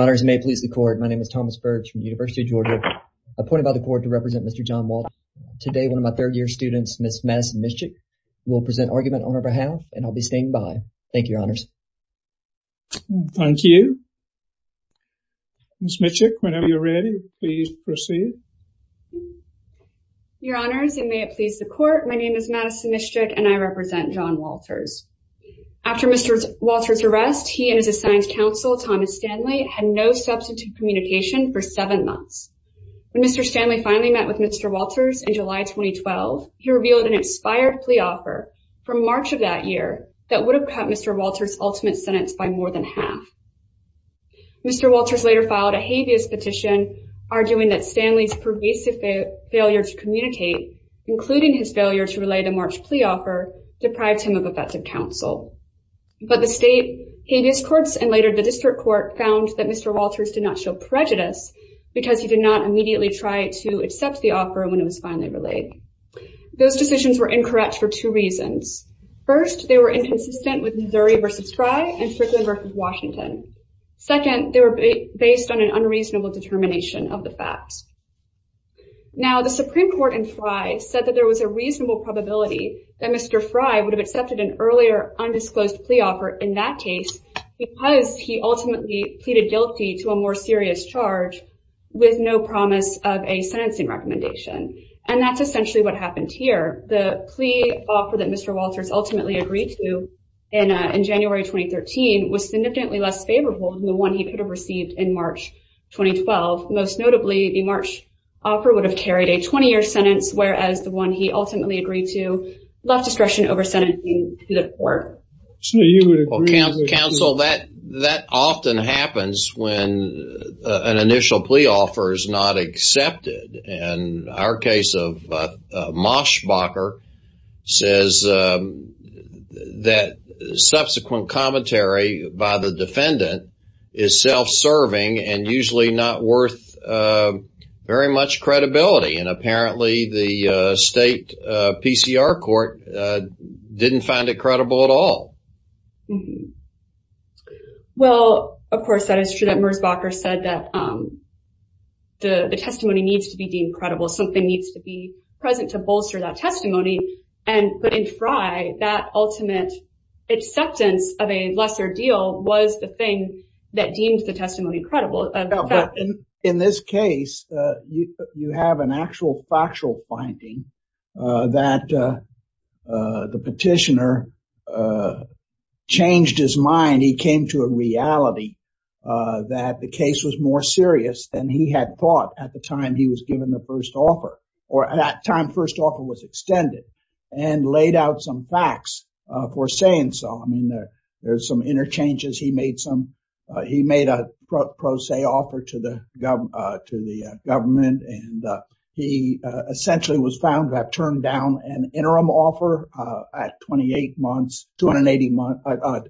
Your honors, it may please the court, my name is Thomas Birch from the University of Georgia, appointed by the court to represent Mr. John Walters. Today, one of my third-year students, Ms. Madison Mischik, will present argument on her behalf, and I'll be standing by. Thank you, your honors. Thank you. Ms. Mischik, whenever you're ready, please proceed. Your honors, it may please the court, my name is Madison Mischik, and I represent John Walters. After Mr. Walters' arrest, he and his assigned counsel, Thomas Stanley, had no substantive communication for seven months. When Mr. Stanley finally met with Mr. Walters in July 2012, he revealed an expired plea offer from March of that year that would have cut Mr. Walters' ultimate sentence by more than half. Mr. Walters later filed a habeas petition, arguing that Stanley's pervasive failure to communicate, including his failure to relay the March plea offer, deprived him of effective counsel. But the state habeas courts and later the district court found that Mr. Walters did not show prejudice because he did not immediately try to accept the offer when it was finally relayed. Those decisions were incorrect for two reasons. First, they were inconsistent with Missouri v. Fry and Fricklin v. Washington. Second, they were based on an unreasonable determination of the facts. Now, the Supreme Court in Fry said that there was a reasonable probability that Mr. Fry would have accepted an earlier undisclosed plea offer in that case because he ultimately pleaded guilty to a more serious charge with no promise of a sentencing recommendation. And that's essentially what happened here. The plea offer that Mr. Walters ultimately agreed to in January 2013 was significantly less favorable than the one he could have received in March 2012, most notably the March offer would have carried a 20-year sentence, whereas the one he ultimately agreed to left discretion over sentencing to the court. Counsel, that often happens when an initial plea offer is not accepted. And our case of Moschbacher says that subsequent commentary by the defendant is self-serving and usually not worth very much credibility. And apparently the state PCR court didn't find it credible at all. Well, of course, that is true that Moschbacher said that the testimony needs to be deemed credible. Something needs to be present to bolster that testimony. But in Fry, that ultimate acceptance of a lesser deal was the thing that deemed the testimony credible. In this case, you have an actual factual finding that the petitioner changed his mind. He came to a reality that the case was more serious than he had thought at the time he was given the first offer or at that time the first offer was extended and laid out some facts for saying so. I mean, there's some interchanges. He made a pro se offer to the government and he essentially was found to have turned down an interim offer at 28 months. How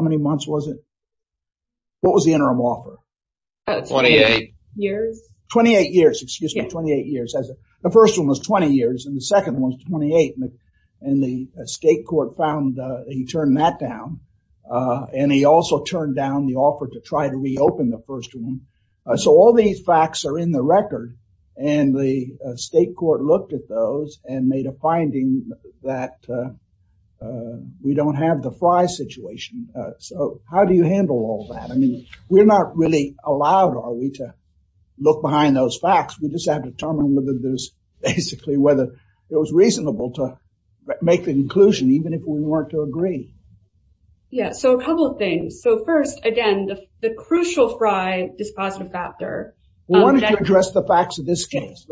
many months was it? What was the interim offer? 28 years. 28 years, excuse me, 28 years. The first one was 20 years and the second one was 28. And the state court found that he turned that down and he also turned down the offer to try to reopen the first one. So all these facts are in the record and the state court looked at those and made a finding that we don't have the Fry situation. So how do you handle all that? I mean, we're not really allowed, are we, to look behind those facts. We just have to determine whether there's basically whether it was reasonable to make the conclusion even if we weren't to agree. Yeah, so a couple of things. So first, again, the crucial Fry dispositive factor. Why don't you address the facts of this case?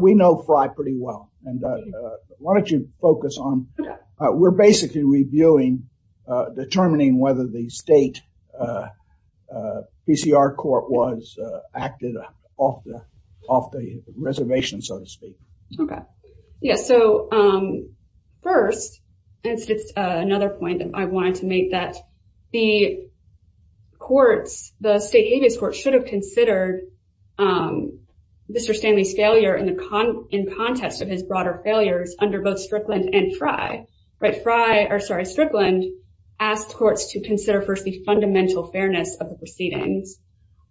We know Fry pretty well. Why don't you focus on... We're basically reviewing, determining whether the state PCR court was acted off the reservation, so to speak. Okay. Yeah, so first, it's another point that I wanted to make that the courts, the state habeas court should have considered Mr. Stanley's failure in context of his broader failures under both Strickland and Fry. Sorry, Strickland asked courts to consider first the fundamental fairness of the proceedings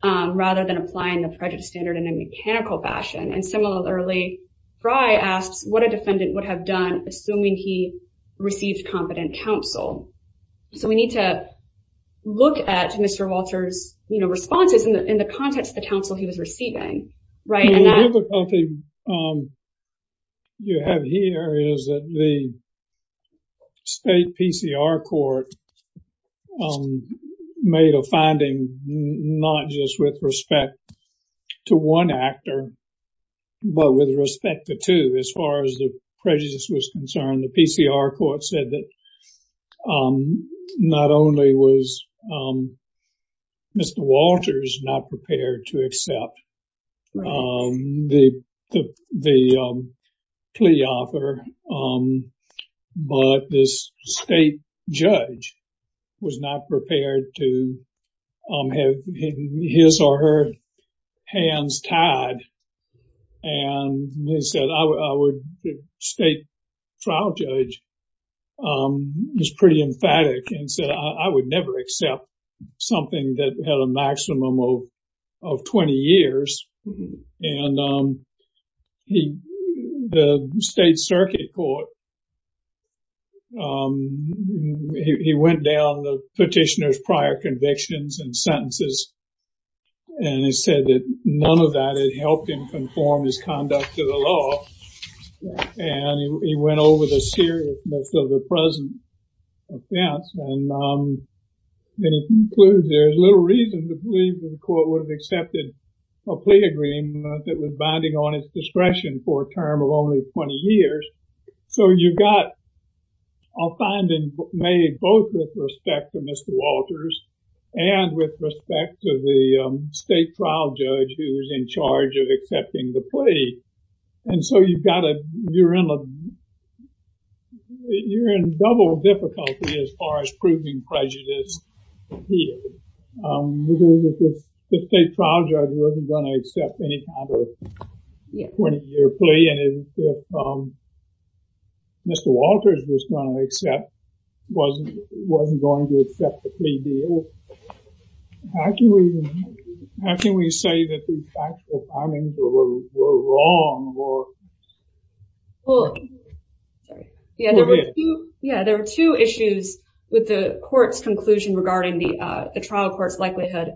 rather than applying the prejudice standard in a mechanical fashion. And similarly, Fry asks what a defendant would have done assuming he received competent counsel. So we need to look at Mr. Walter's responses in the context of the counsel he was receiving. The difficulty you have here is that the state PCR court made a finding not just with respect to one actor, but with respect to two as far as the prejudice was concerned. The PCR court said that not only was Mr. Walter's not prepared to accept the plea offer, but this state judge was not prepared to have his or her hands tied. And the state trial judge was pretty emphatic and said, I would never accept something that had a maximum of 20 years. And the state circuit court, he went down the petitioner's prior convictions and sentences. And he said that none of that had helped him conform his conduct to the law. And he went over the seriousness of the present offense. And then he concludes there's little reason to believe the court would have accepted a plea agreement that was binding on its discretion for a term of only 20 years. So you got a finding made both with respect to Mr. Walter's and with respect to the state trial judge who was in charge of accepting the plea. And so you're in double difficulty as far as proving prejudice here. Because if the state trial judge wasn't going to accept any kind of 20-year plea, and if Mr. Walter's was going to accept, wasn't going to accept the plea deal, how can we say that these factual findings were wrong? Well, yeah, there were two issues with the court's conclusion regarding the trial court's likelihood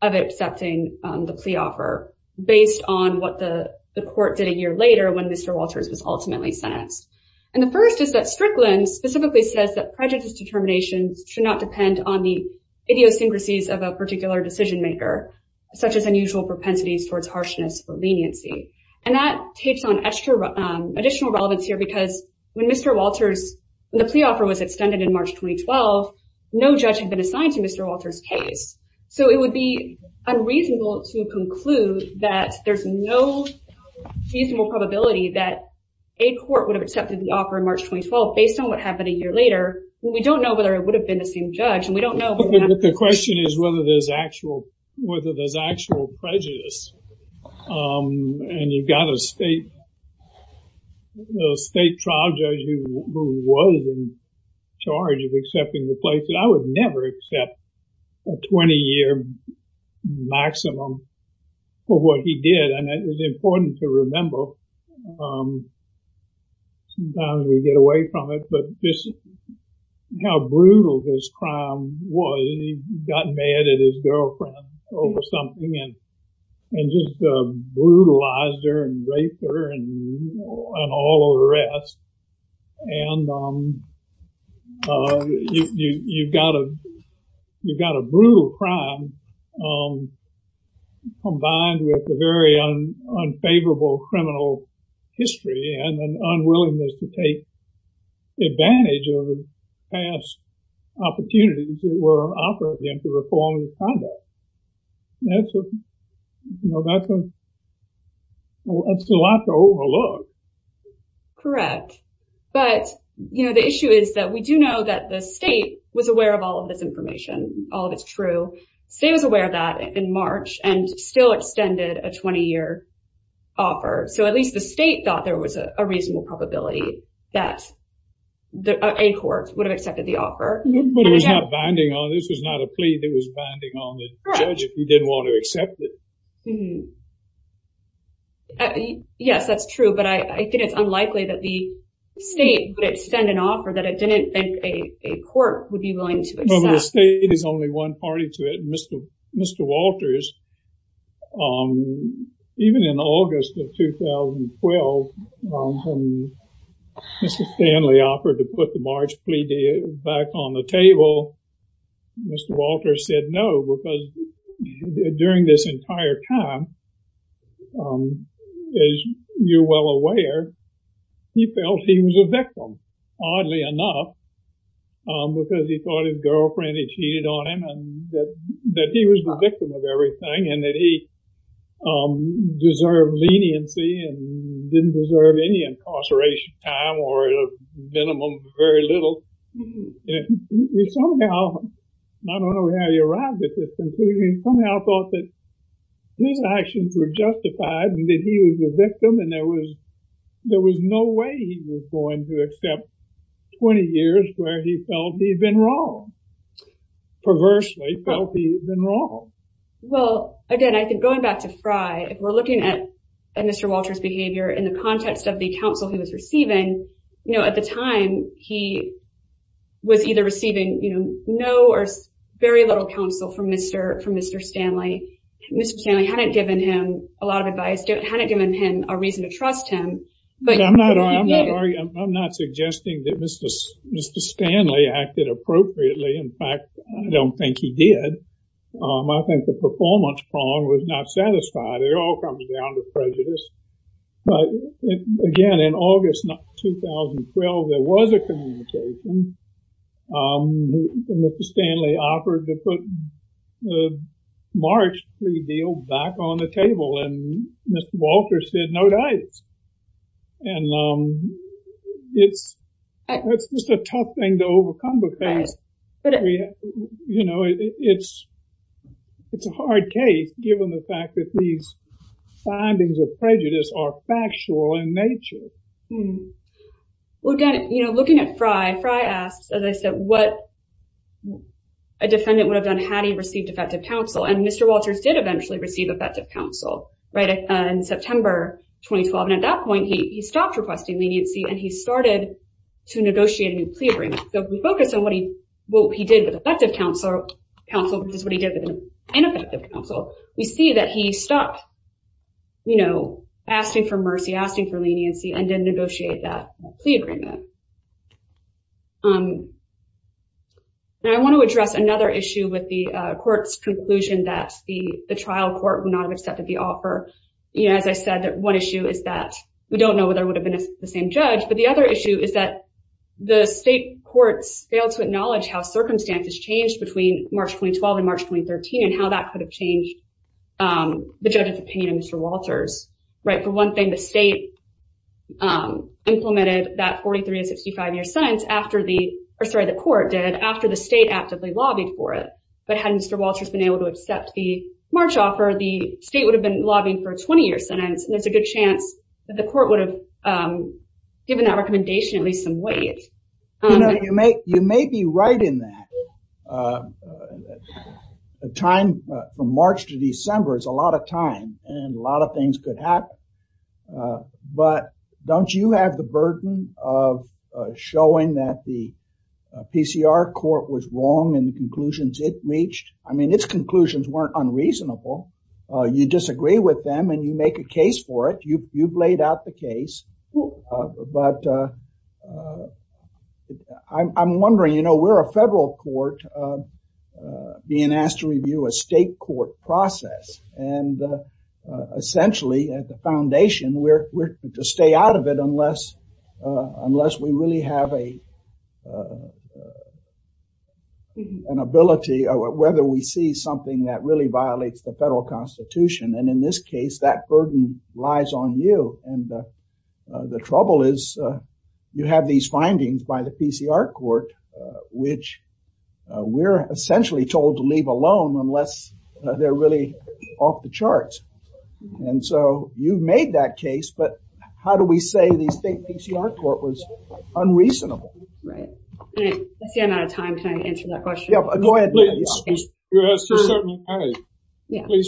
of accepting the plea offer based on what the court did a year later when Mr. Walter's was ultimately sentenced. And the first is that Strickland specifically says that prejudice determinations should not depend on the idiosyncrasies of a particular decision maker, such as unusual propensities towards harshness or leniency. And that takes on additional relevance here because when Mr. Walter's, when the plea offer was extended in March 2012, no judge had been assigned to Mr. Walter's case. So it would be unreasonable to conclude that there's no reasonable probability that a court would have accepted the offer in March 2012 based on what happened a year later. We don't know whether it would have been the same judge, and we don't know. The question is whether there's actual prejudice and you've got a state trial judge who was in charge of accepting the plea. I would never accept a 20-year maximum for what he did. And that was important to remember. Sometimes we get away from it, but just how brutal this crime was. And he got mad at his girlfriend over something and just brutalized her and raped her and all the rest. And you've got a brutal crime combined with a very unfavorable criminal history and an unwillingness to take advantage of past opportunities that were offered to him to reform his conduct. That's a lot to overlook. Correct. But, you know, the issue is that we do know that the state was aware of all of this information, all of it's true. The state was aware of that in March and still extended a 20-year offer. So at least the state thought there was a reasonable probability that a court would have accepted the offer. But it was not binding on this. This was not a plea that was binding on the judge if he didn't want to accept it. Yes, that's true. But I think it's unlikely that the state would extend an offer that it didn't think a court would be willing to accept. But the state is only one party to it. Mr. Walters, even in August of 2012, when Mr. Stanley offered to put the March plea back on the table, Mr. Walters said no because during this entire time, as you're well aware, he felt he was a victim, oddly enough, because he thought his girlfriend had cheated on him and that he was the victim of everything and that he deserved leniency and didn't deserve any incarceration time or at a minimum, very little. He somehow, I don't know how he arrived at this conclusion, he somehow thought that his actions were justified and that he was the victim and there was no way he was going to accept 20 years where he felt he'd been wrong, perversely felt he'd been wrong. Well, again, I think going back to Fry, if we're looking at Mr. Walters' behavior in the context of the counsel he was receiving, at the time, he was either receiving no or very little counsel from Mr. Stanley. Mr. Stanley hadn't given him a lot of advice, hadn't given him a reason to trust him. I'm not suggesting that Mr. Stanley acted appropriately. In fact, I don't think he did. I think the performance prong was not satisfied. It all comes down to prejudice. But again, in August 2012, there was a communication. Mr. Stanley offered to put the March plea deal back on the table and Mr. Walters said, no dice. It's just a tough thing to overcome, because it's a hard case, given the fact that these findings of prejudice are factual in nature. Well, again, looking at Fry, Fry asks, as I said, what a defendant would have done had he received effective counsel, and Mr. Walters did eventually receive effective counsel in September 2012, and at that point, he stopped requesting leniency and he started to negotiate a new plea agreement. So if we focus on what he did with effective counsel, which is what he did with ineffective counsel, we see that he stopped asking for mercy, asking for leniency, and didn't negotiate that plea agreement. I want to address another issue with the court's conclusion that the trial court would not have accepted the offer. As I said, one issue is that we don't know whether it would have been the same judge, but the other issue is that the state courts failed to acknowledge how circumstances changed between March 2012 and March 2013 and how that could have changed the judge's opinion of Mr. Walters. For one thing, the state implemented that 43- to 65-year sentence, or sorry, the court did, after the state actively lobbied for it. But had Mr. Walters been able to accept the March offer, the state would have been lobbying for a 20-year sentence, and there's a good chance that the court would have given that recommendation at least some weight. You may be right in that. The time from March to December is a lot of time, and a lot of things could happen. But don't you have the burden of showing that the PCR court was wrong in the conclusions it reached? I mean, its conclusions weren't unreasonable. You disagree with them, and you make a case for it. You've laid out the case. But I'm wondering, you know, we're a federal court being asked to review a state court process. And essentially, at the foundation, we're to stay out of it unless we really have an ability or whether we see something that really violates the federal constitution. And in this case, that burden lies on you. And the trouble is, you have these findings by the PCR court, which we're essentially told to leave alone unless they're really off the charts. And so you've made that case, but how do we say the state PCR court was unreasonable? Right. I see I'm out of time. Can I answer that question? Yeah, go ahead. Please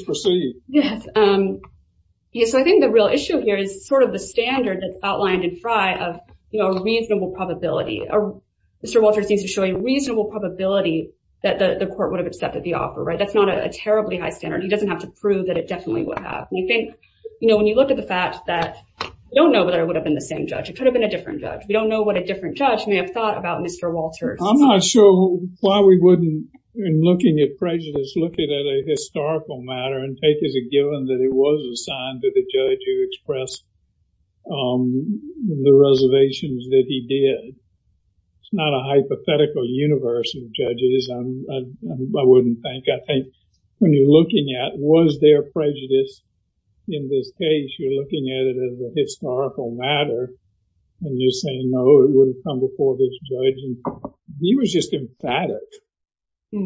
proceed. Yes. So I think the real issue here is sort of the standard that's outlined in Frye of, you know, a reasonable probability. Mr. Walters needs to show a reasonable probability that the court would have accepted the offer, right? That's not a terribly high standard. He doesn't have to prove that it definitely would have. And I think, you know, when you look at the fact that we don't know whether it would have been the same judge. It could have been a different judge. We don't know what a different judge may have thought about Mr. Walters. I'm not sure why we wouldn't, in looking at prejudice, look at a historical matter and take as a given that it was assigned to the judge who expressed the reservations that he did. It's not a hypothetical universe of judges, I wouldn't think. I think when you're looking at was there prejudice in this case, you're looking at it as a historical matter. And you're saying, no, it wouldn't come before this judge. He was just emphatic. At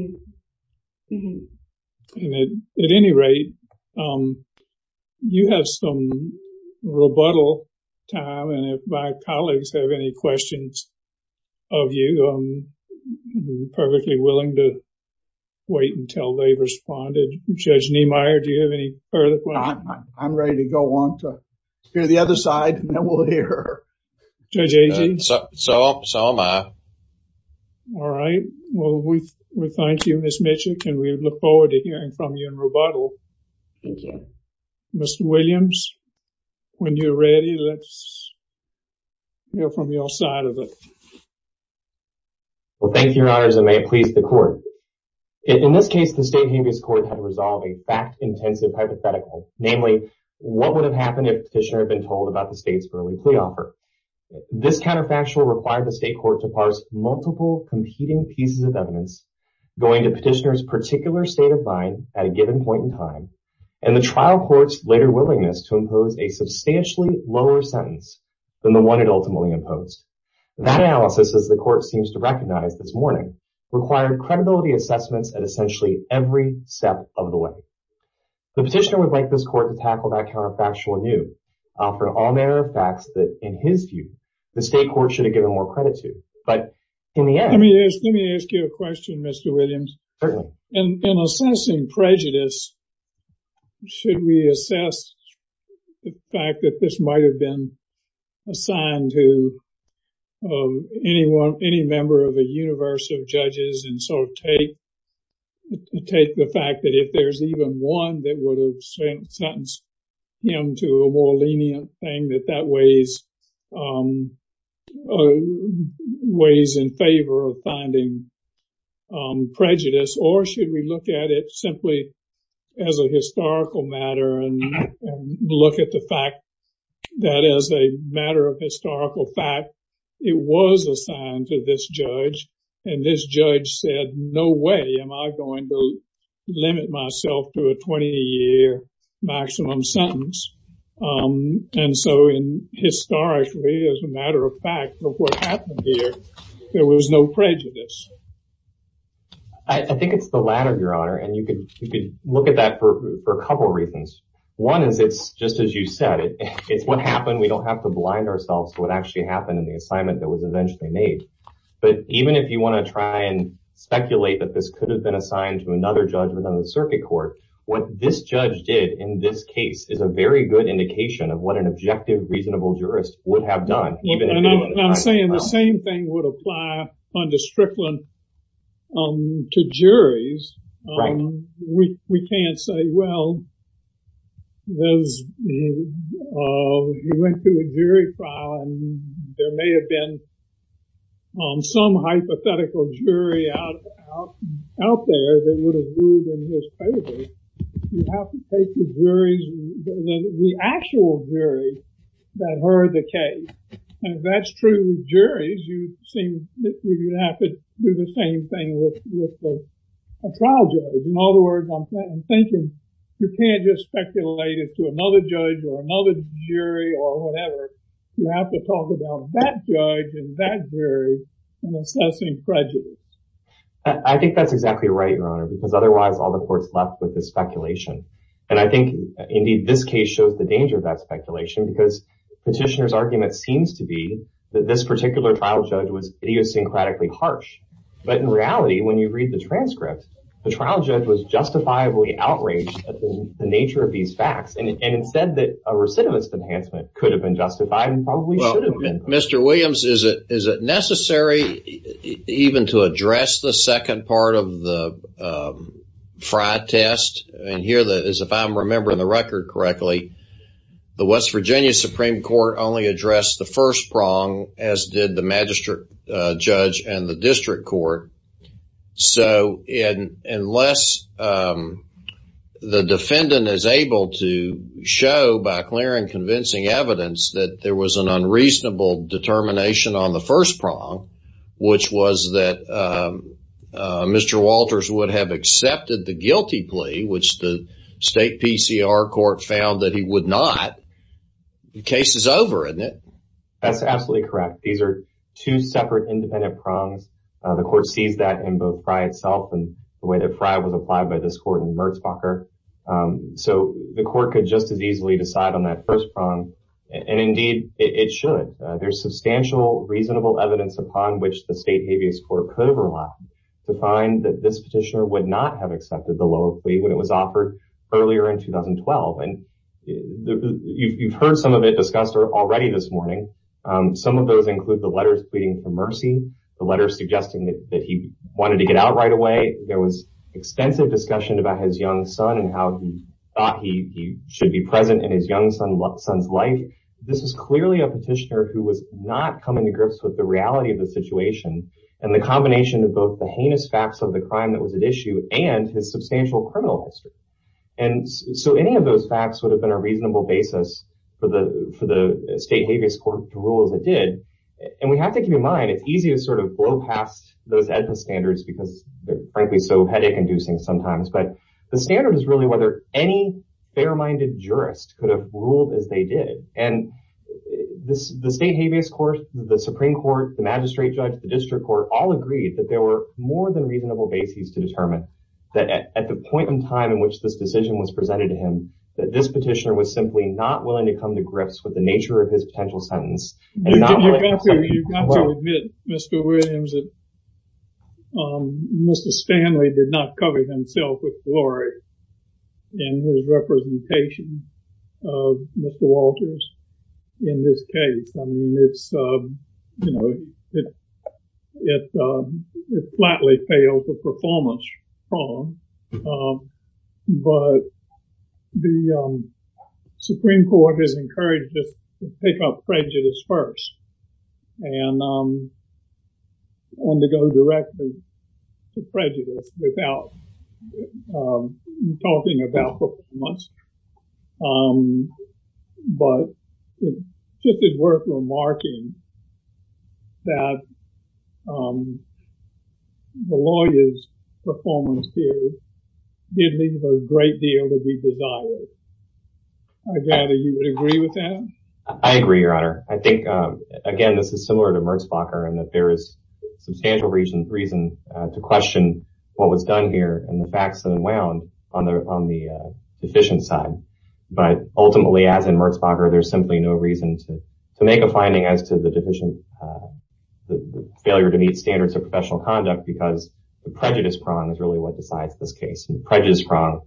any rate, you have some rebuttal time. And if my colleagues have any questions of you, I'm perfectly willing to wait until they've responded. Judge Niemeyer, do you have any further questions? I'm ready to go on to hear the other side, and then we'll hear her. Judge Agee? So am I. All right. Well, we thank you, Ms. Mitchell, and we look forward to hearing from you in rebuttal. Thank you. Mr. Williams, when you're ready, let's hear from your side of it. Well, thank you, Your Honors, and may it please the Court. In this case, the state habeas court had resolved a fact-intensive hypothetical, namely, what would have happened if the petitioner had been told about the state's early plea offer? This counterfactual required the state court to parse multiple competing pieces of evidence going to petitioner's particular state of mind at a given point in time, and the trial court's later willingness to impose a substantially lower sentence than the one it ultimately imposed. That analysis, as the court seems to recognize this morning, required credibility assessments at essentially every step of the way. The petitioner would like this court to tackle that counterfactual anew, for all matter of fact that, in his view, the state court should have given more credit to. But in the end... Let me ask you a question, Mr. Williams. Certainly. In assessing prejudice, should we assess the fact that this might have been assigned to any member of a universe of judges and sort of take the fact that if there's even one that would have sentenced him to a more lenient thing, that that weighs in favor of finding prejudice, or should we look at it simply as a historical matter and look at the fact that, as a matter of historical fact, it was assigned to this judge, and this judge said, no way am I going to limit myself to a 20-year maximum sentence. And so, historically, as a matter of fact, of what happened here, there was no prejudice. I think it's the latter, Your Honor, and you could look at that for a couple of reasons. One is it's, just as you said, it's what happened. We don't have to blind ourselves to what actually happened in the assignment that was eventually made. But even if you want to try and speculate that this could have been assigned to another judge within the circuit court, what this judge did in this case is a very good indication of what an objective, reasonable jurist would have done. And I'm saying the same thing would apply under Strickland to juries. Right. We can't say, well, he went through a jury trial and there may have been some hypothetical jury out there that would have ruled in his favor. You have to take the actual jury that heard the case. And if that's true with juries, you'd have to do the same thing with a trial judge. In other words, I'm thinking, you can't just speculate it to another judge or another jury or whatever. You have to talk about that judge and that jury in assessing prejudice. I think that's exactly right, Your Honor, because otherwise all the court's left with is speculation. And I think, indeed, this case shows the danger of that speculation because Petitioner's argument seems to be that this particular trial judge was idiosyncratically harsh. But in reality, when you read the transcript, the trial judge was justifiably outraged at the nature of these facts. And instead that a recidivist enhancement could have been justified and probably should have been. Well, Mr. Williams, is it necessary even to address the second part of the Frye test? And here, as if I'm remembering the record correctly, the West Virginia Supreme Court only addressed the first prong, as did the magistrate judge and the district court. So unless the defendant is able to show, by clear and convincing evidence, that there was an unreasonable determination on the first prong, which was that Mr. Walters would have accepted the guilty plea, which the state PCR court found that he would not, the case is over, isn't it? That's absolutely correct. These are two separate independent prongs. The court sees that in both Frye itself and the way that Frye was applied by this court in Merzbacher. So the court could just as easily decide on that first prong. And indeed it should. There's substantial reasonable evidence upon which the state habeas court could have relied to find that this petitioner would not have accepted the low plea when it was offered earlier in 2012. And you've heard some of it discussed already this morning. Some of those include the letters pleading for mercy, the letters suggesting that he wanted to get out right away. There was extensive discussion about his young son and how he thought he should be present in his young son's life. This is clearly a petitioner who was not coming to grips with the reality of the situation and the combination of both the heinous facts of the crime that was at issue and his substantial criminal history. And so any of those facts would have been a reasonable basis for the state habeas court to rule as it did. And we have to keep in mind it's easy to sort of blow past those ethical standards because they're frankly so headache-inducing sometimes. But the standard is really whether any fair-minded jurist could have ruled as they did. And the state habeas court, the Supreme Court, the magistrate judge, the district court all agreed that there were more than reasonable bases to determine that at the point in time in which this decision was presented to him that this petitioner was simply not willing to come to grips with the nature of his potential sentence. You've got to admit, Mr. Williams, that Mr. Stanley did not cover himself with glory in his representation of Mr. Walters in this case. I mean, it's, you know, it flatly fails the performance prong. But the Supreme Court has encouraged this to pick up prejudice first and undergo directly to prejudice without talking about performance. But it's just as worth remarking that the lawyer's performance here did leave a great deal to be desired. I gather you would agree with that? I agree, Your Honor. I think, again, this is similar to Merzbacher in that there is substantial reason to question what was done here and the facts unwound on the deficient side. But ultimately, as in Merzbacher, there's simply no reason to make a finding as to the deficient failure to meet standards of professional conduct because the prejudice prong is really what decides this case. And the prejudice prong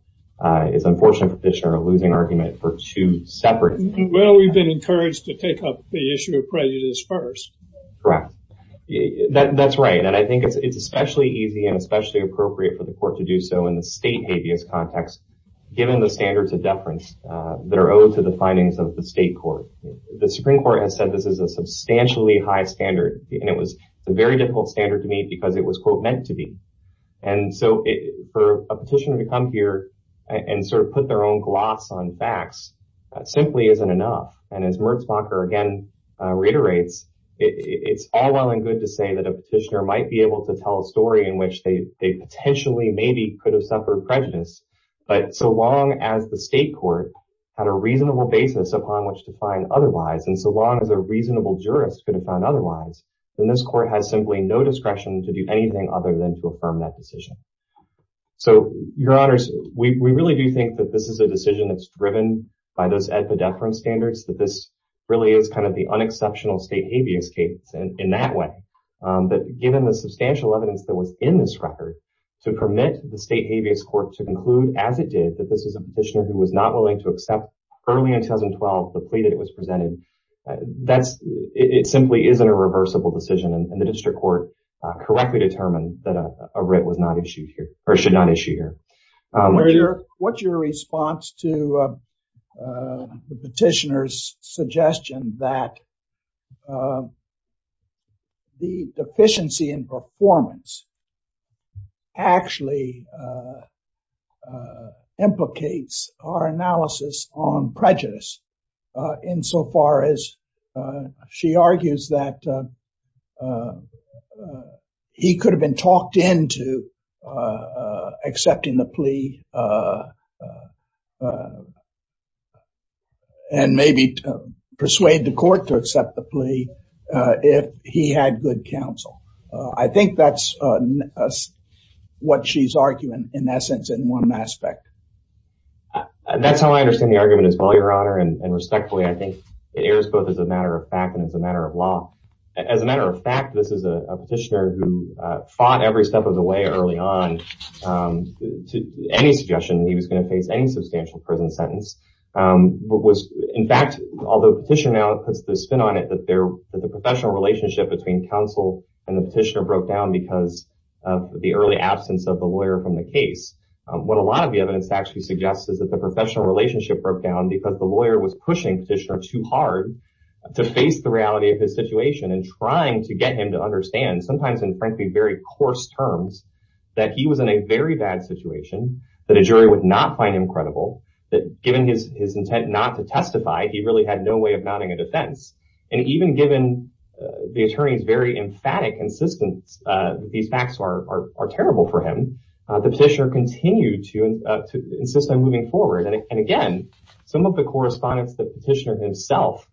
is an unfortunate condition or a losing argument for two separate cases. Well, we've been encouraged to take up the issue of prejudice first. Correct. That's right. And I think it's especially easy and especially appropriate for the court to do so in the state habeas context given the standards of deference that are owed to the findings of the state court. The Supreme Court has said this is a substantially high standard, and it was a very difficult standard to meet because it was, quote, meant to be. And so for a petitioner to come here and sort of put their own gloss on facts simply isn't enough. And as Merzbacher, again, reiterates, it's all well and good to say that a petitioner might be able to tell a story in which they potentially maybe could have suffered prejudice. But so long as the state court had a reasonable basis upon which to find otherwise, and so long as a reasonable jurist could have found otherwise, then this court has simply no discretion to do anything other than to affirm that decision. So your honors, we really do think that this is a decision that's driven by those epidephram standards, that this really is kind of the unexceptional state habeas case in that way. But given the substantial evidence that was in this record to permit the state habeas court to conclude, as it did, that this is a petitioner who was not willing to accept early in 2012 the plea that was presented, it simply isn't a reversible decision. And the district court correctly determined that a writ was not issued here, or should not issue here. What's your response to the petitioner's suggestion that the deficiency in performance actually implicates our analysis on prejudice insofar as she argues that he could have been talked into accepting the plea and maybe persuade the court to accept the plea if he had good counsel? I think that's what she's arguing, in essence, in one aspect. That's how I understand the argument as well, your honor. And respectfully, I think it airs both as a matter of fact and as a matter of law. As a matter of fact, this is a petitioner who fought every step of the way early on to any suggestion that he was going to face any substantial prison sentence. In fact, although the petitioner now puts the spin on it that the professional relationship between counsel and the petitioner broke down because of the early absence of the lawyer from the case, what a lot of the evidence actually suggests is that the professional relationship broke down because the lawyer was pushing the petitioner too hard to face the reality of his situation and trying to get him to understand, sometimes in frankly very coarse terms, that he was in a very bad situation, that a jury would not find him credible, that given his intent not to testify, he really had no way of mounting a defense. And even given the attorney's very emphatic insistence that these facts are terrible for him, the petitioner continued to insist on moving forward. And again, some of the correspondence the petitioner himself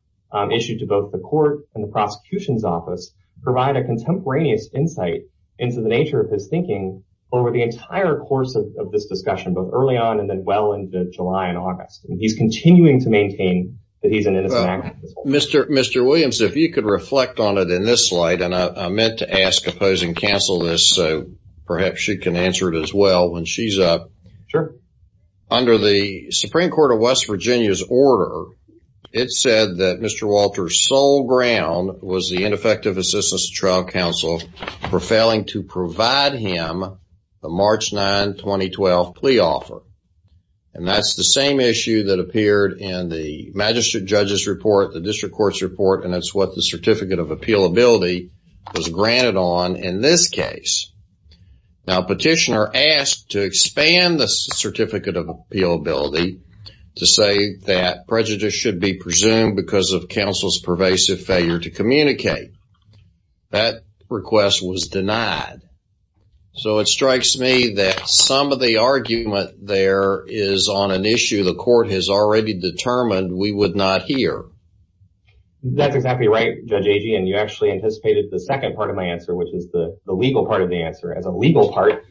issued to both the court and the prosecution's office provide a contemporaneous insight into the nature of his thinking over the entire course of this discussion, both early on and then well into July and August. He's continuing to maintain that he's an innocent activist. Mr. Williams, if you could reflect on it in this slide, and I meant to ask, oppose, and cancel this so perhaps she can answer it as well when she's up. Sure. Under the Supreme Court of West Virginia's order, it said that Mr. Walter's sole ground was the ineffective assistance of trial counsel for failing to provide him the March 9, 2012 plea offer. And that's the same issue that appeared in the Magistrate Judge's report, the District Court's report, and that's what the Certificate of Appealability was granted on in this case. Now, petitioner asked to expand the Certificate of Appealability to say that prejudice should be presumed because of counsel's pervasive failure to communicate. That request was denied. So it strikes me that some of the argument there is on an issue the court has already determined we would not hear. That's exactly right, Judge Agee, and you actually anticipated the second part of my answer, which is the legal part of the answer. As a legal part,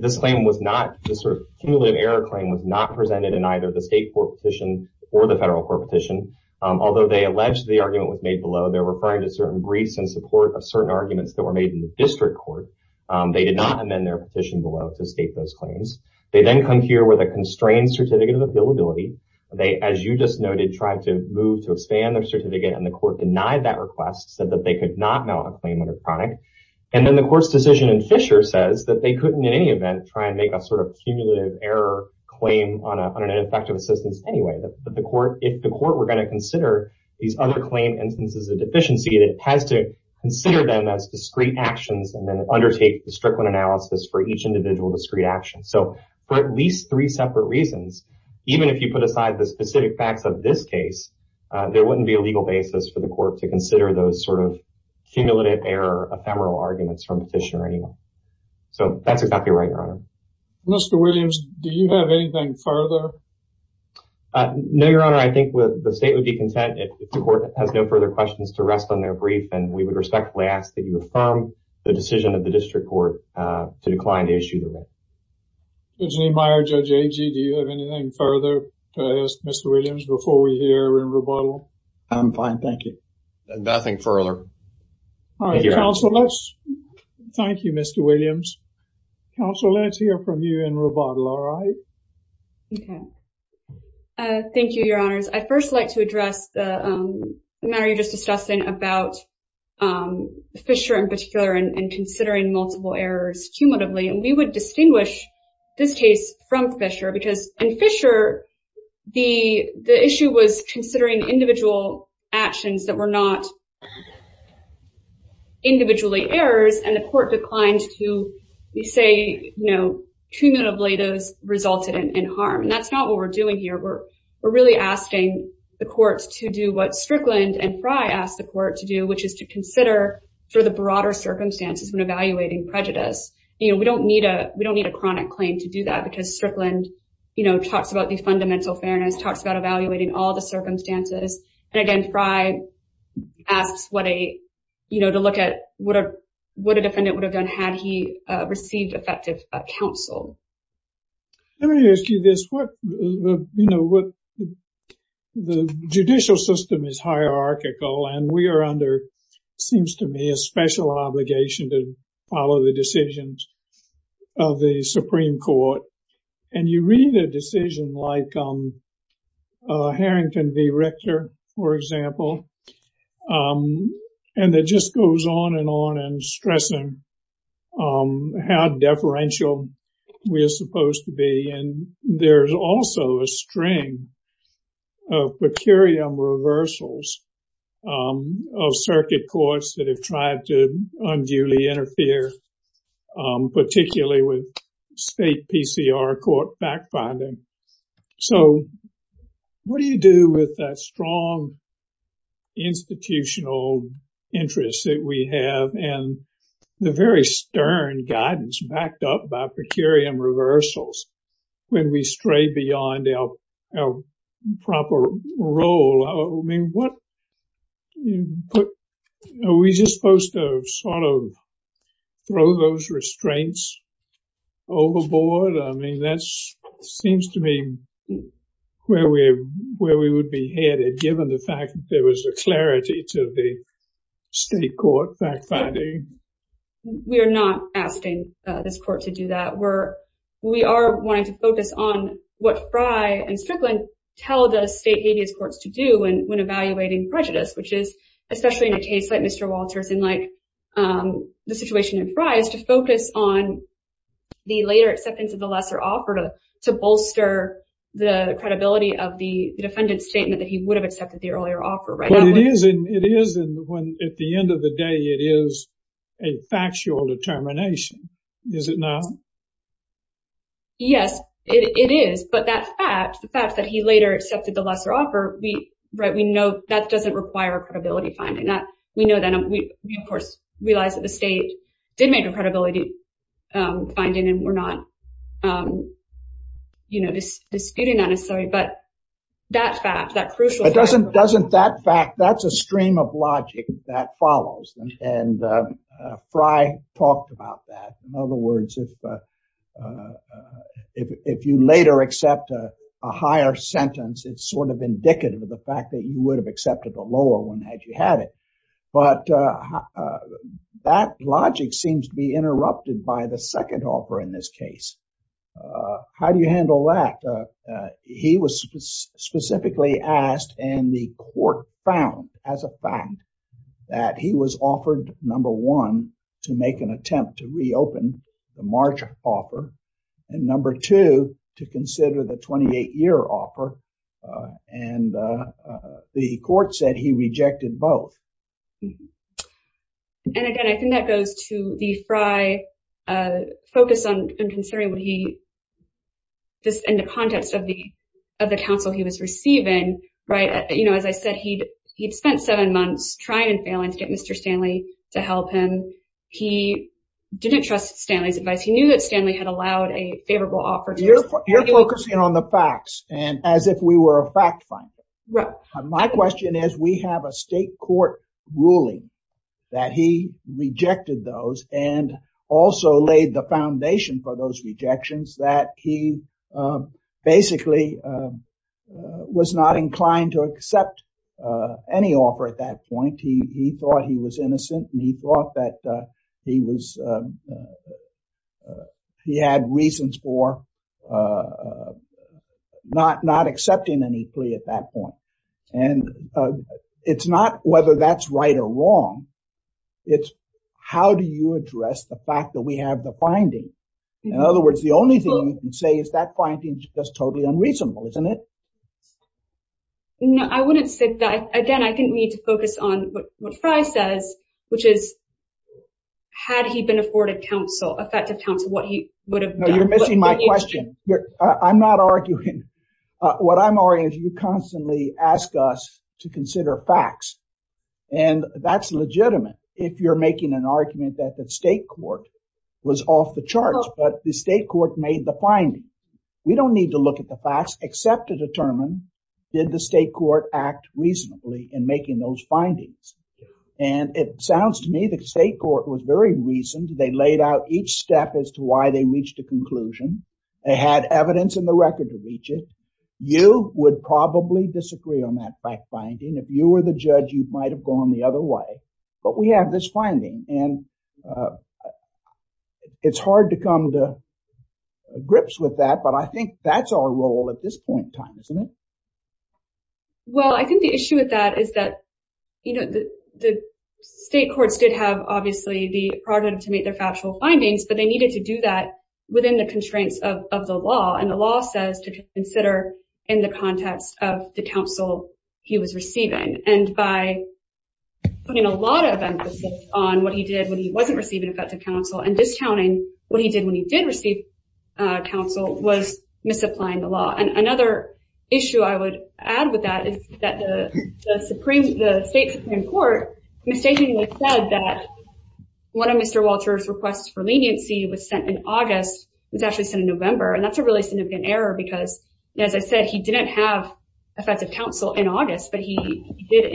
this claim was not, this sort of cumulative error claim, was not presented in either the State Court petition or the Federal Court petition. Although they allege the argument was made below, they're referring to certain briefs in support of certain arguments that were made in the District Court. They did not amend their petition below to state those claims. They then come here with a constrained Certificate of Appealability. They, as you just noted, tried to move to expand their certificate, and the court denied that request, said that they could not mount a claim under chronic, and then the court's decision in Fisher says that they couldn't in any event try and make a sort of cumulative error claim on an ineffective assistance anyway. If the court were going to consider these other claim instances of deficiency, it has to consider them as discrete actions and then undertake the Strickland analysis for each individual discrete action. So for at least three separate reasons, even if you put aside the specific facts of this case, there wouldn't be a legal basis for the court to consider those sort of cumulative error, ephemeral arguments from the petitioner anyway. So that's exactly right, Your Honor. Mr. Williams, do you have anything further? No, Your Honor. I think the state would be content if the court has no further questions to rest on their brief, and we would respectfully ask that you affirm the decision of the District Court to decline to issue the brief. Judge Niemeyer, Judge Agee, do you have anything further to ask Mr. Williams before we hear a written rebuttal? I'm fine, thank you. Nothing further. All right, counsel, let's... Thank you, Mr. Williams. Counsel, let's hear from you in rebuttal, all right? Okay. Thank you, Your Honors. I'd first like to address the matter you were just discussing about Fisher in particular and we would distinguish this case from Fisher because in Fisher, the issue was considering individual actions that were not individually errors and the court declined to say, you know, cumulatively those resulted in harm. And that's not what we're doing here. We're really asking the courts to do what Strickland and Frye asked the court to do, which is to consider for the broader circumstances when evaluating prejudice. You know, we don't need a chronic claim to do that because Strickland, you know, talks about the fundamental fairness, talks about evaluating all the circumstances. And again, Frye asks what a, you know, to look at what a defendant would have done had he received effective counsel. Let me ask you this. What, you know, what... The judicial system is hierarchical and we are under, seems to me, a special obligation to follow the decisions of the Supreme Court. And you read a decision like Harrington v. Richter, for example, and that just goes on and on and stressing how deferential we are supposed to be. And there's also a string of per curiam reversals of circuit courts that have tried to unduly interfere particularly with state PCR court backfinding. So what do you do with that strong institutional interest that we have and the very stern guidance backed up by per curiam reversals when we stray beyond our proper role? I mean, what... Are we just supposed to sort of throw those restraints overboard? I mean, that seems to me where we would be headed given the fact that there was a clarity to the state court backfinding. We are not asking this court to do that. We are wanting to focus on what Frye and Strickland tell the state habeas courts to do when evaluating prejudice, which is especially in a case like Mr. Walters and like the situation in Frye is to focus on the later acceptance of the lesser offer to bolster the credibility of the defendant's statement that he would have accepted the earlier offer. But it is when at the end of the day it is a factual determination. Is it not? Yes, it is. But that fact, the fact that he later accepted the lesser offer, we know that does not require credibility finding. We know that. We, of course, realize that the state did make a credibility finding and we are not disputing that necessarily. But that fact, that crucial fact... But does not that fact, that is a stream of logic that follows. And Frye talked about that. In other words, if you later accept a higher sentence, it's sort of indicative of the fact that you would have accepted the lower one had you had it. But that logic seems to be interrupted by the second offer in this case. How do you handle that? He was specifically asked and the court found as a fact that he was offered, number one, to make an attempt to reopen the March offer and number two, to consider the 28-year offer. And the court said he rejected both. And again, I think that goes to the Frye focus on considering what he, in the context of the counsel he was receiving, right? You know, as I said, he'd spent seven months trying and failing to get Mr. Stanley to help him. He didn't trust Stanley's advice. He knew that Stanley had allowed a favorable offer. You're focusing on the facts and as if we were a fact finder. Right. My question is, we have a state court ruling that he rejected those and also laid the foundation for those rejections that he basically was not inclined to accept any offer at that point. He thought he was innocent and he thought that he had reasons for not accepting any plea at that point. And it's not whether that's right or wrong. It's how do you address the fact that we have the finding? In other words, the only thing you can say is that finding is just totally unreasonable, isn't it? No, I wouldn't say that. Again, I think we need to focus on what Frye says which is had he been afforded effective counsel, what he would have done. No, you're missing my question. I'm not arguing. What I'm arguing is you constantly ask us to consider facts and that's legitimate if you're making an argument that the state court was off the charts but the state court made the finding. We don't need to look at the facts except to determine did the state court act reasonably in making those findings? And it sounds to me the state court was very reasoned. They laid out each step as to why they reached a conclusion. They had evidence in the record to reach it. You would probably disagree on that fact finding. If you were the judge, you might have gone the other way but we have this finding and it's hard to come to grips with that but I think that's our role at this point in time, isn't it? Well, I think the issue with that is that the state courts did have obviously the prerogative to make their factual findings but they needed to do that within the constraints of the law and the law says to consider in the context of the counsel he was receiving and by putting a lot of emphasis on what he did when he wasn't receiving effective counsel and discounting what he did when he did receive counsel was misapplying the law and another issue I would add with that is that the state supreme court mistakenly said that one of Mr. Walter's requests for leniency was sent in August was actually sent in November and that's a really significant error because as I said, he didn't have effective counsel in August but he did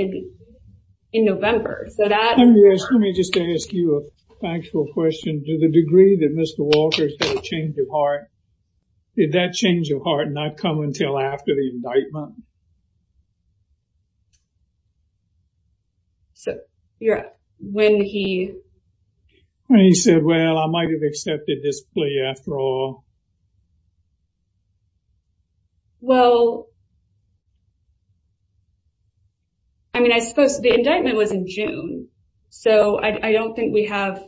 in November. Let me just ask you a factual question. To the degree that Mr. Walter said a change of heart, did that change of heart not come until after the indictment? So, when he... When he said, well, I might have accepted this plea after all. Well, I mean, I suppose the indictment was in June so I don't think we have...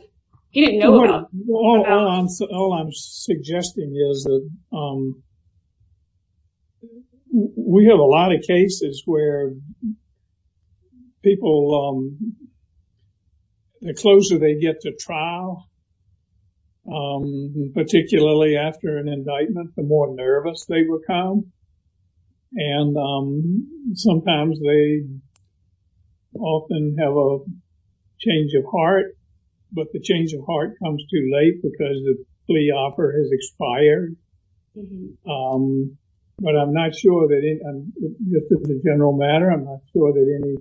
He didn't know about... All I'm suggesting is that we have a lot of cases where people... The closer they get to trial, particularly after an indictment, the more nervous they become and sometimes they often have a change of heart but the change of heart comes too late because the plea offer has expired but I'm not sure that... Just as a general matter, I'm not sure that any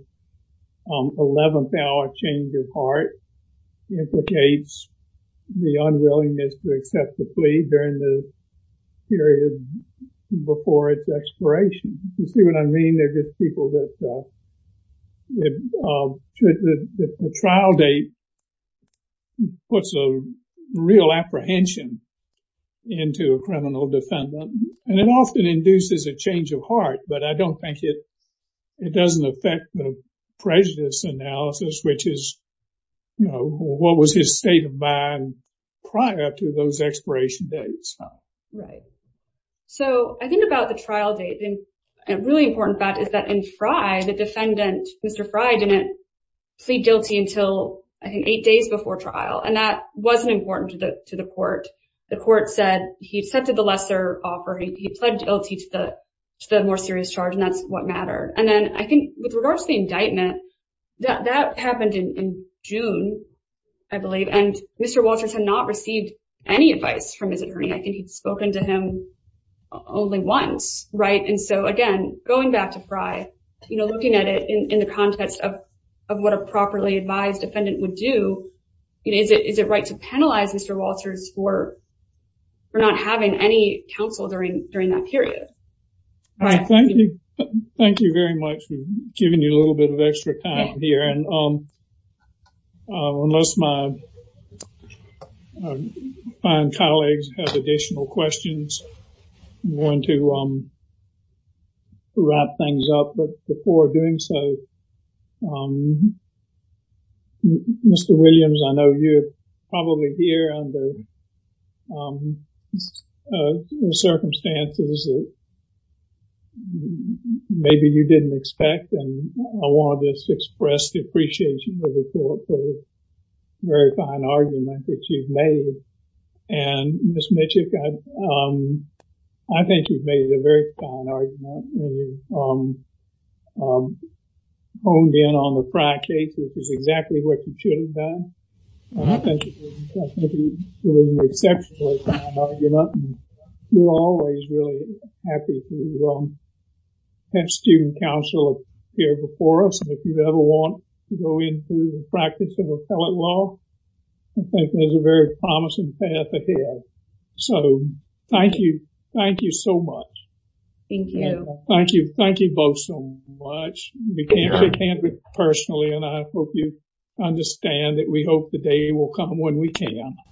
11th hour change of heart implicates the unwillingness to accept the plea during the period before its expiration. You see what I mean? They're just people that... The trial date puts a real apprehension into a criminal defendant and it often induces a change of heart but I don't think it... It doesn't affect the prejudice analysis which is what was his state of mind prior to those expiration dates. Right. So, I think about the trial date and a really important fact is that in Frye, the defendant, Mr. Frye, didn't plead guilty until, I think, eight days before trial and that wasn't important to the court. The court said he accepted the lesser offer. He pled guilty to the more serious charge and that's what mattered and then I think with regards to the indictment, that happened in June, I believe, and Mr. Walters had not received any advice from his attorney. I think he'd spoken to him only once, right? And so, again, going back to Frye, looking at it in the context of what a properly advised defendant would do, is it right to penalize Mr. Walters for not having any counsel during that period? Thank you very much. We've given you a little bit of extra time here and unless my fine colleagues have additional questions, I'm going to wrap things up. But before doing so, Mr. Williams, I know you're probably here under circumstances that maybe you didn't expect and I wanted to express the appreciation of the court for the very fine argument that you've made and Ms. Mitchik, I think you've made a very fine argument. You've honed in on the Frye case, which is exactly what you should have done. I think you're doing exceptionally fine argument and we're always really happy to have student counsel here before us and if you ever want to go into practice of appellate law, I think there's a very promising path ahead. So, thank you. Thank you so much. Thank you. Thank you both so much. We can't do it personally and I hope you understand that we hope the day will come when we can.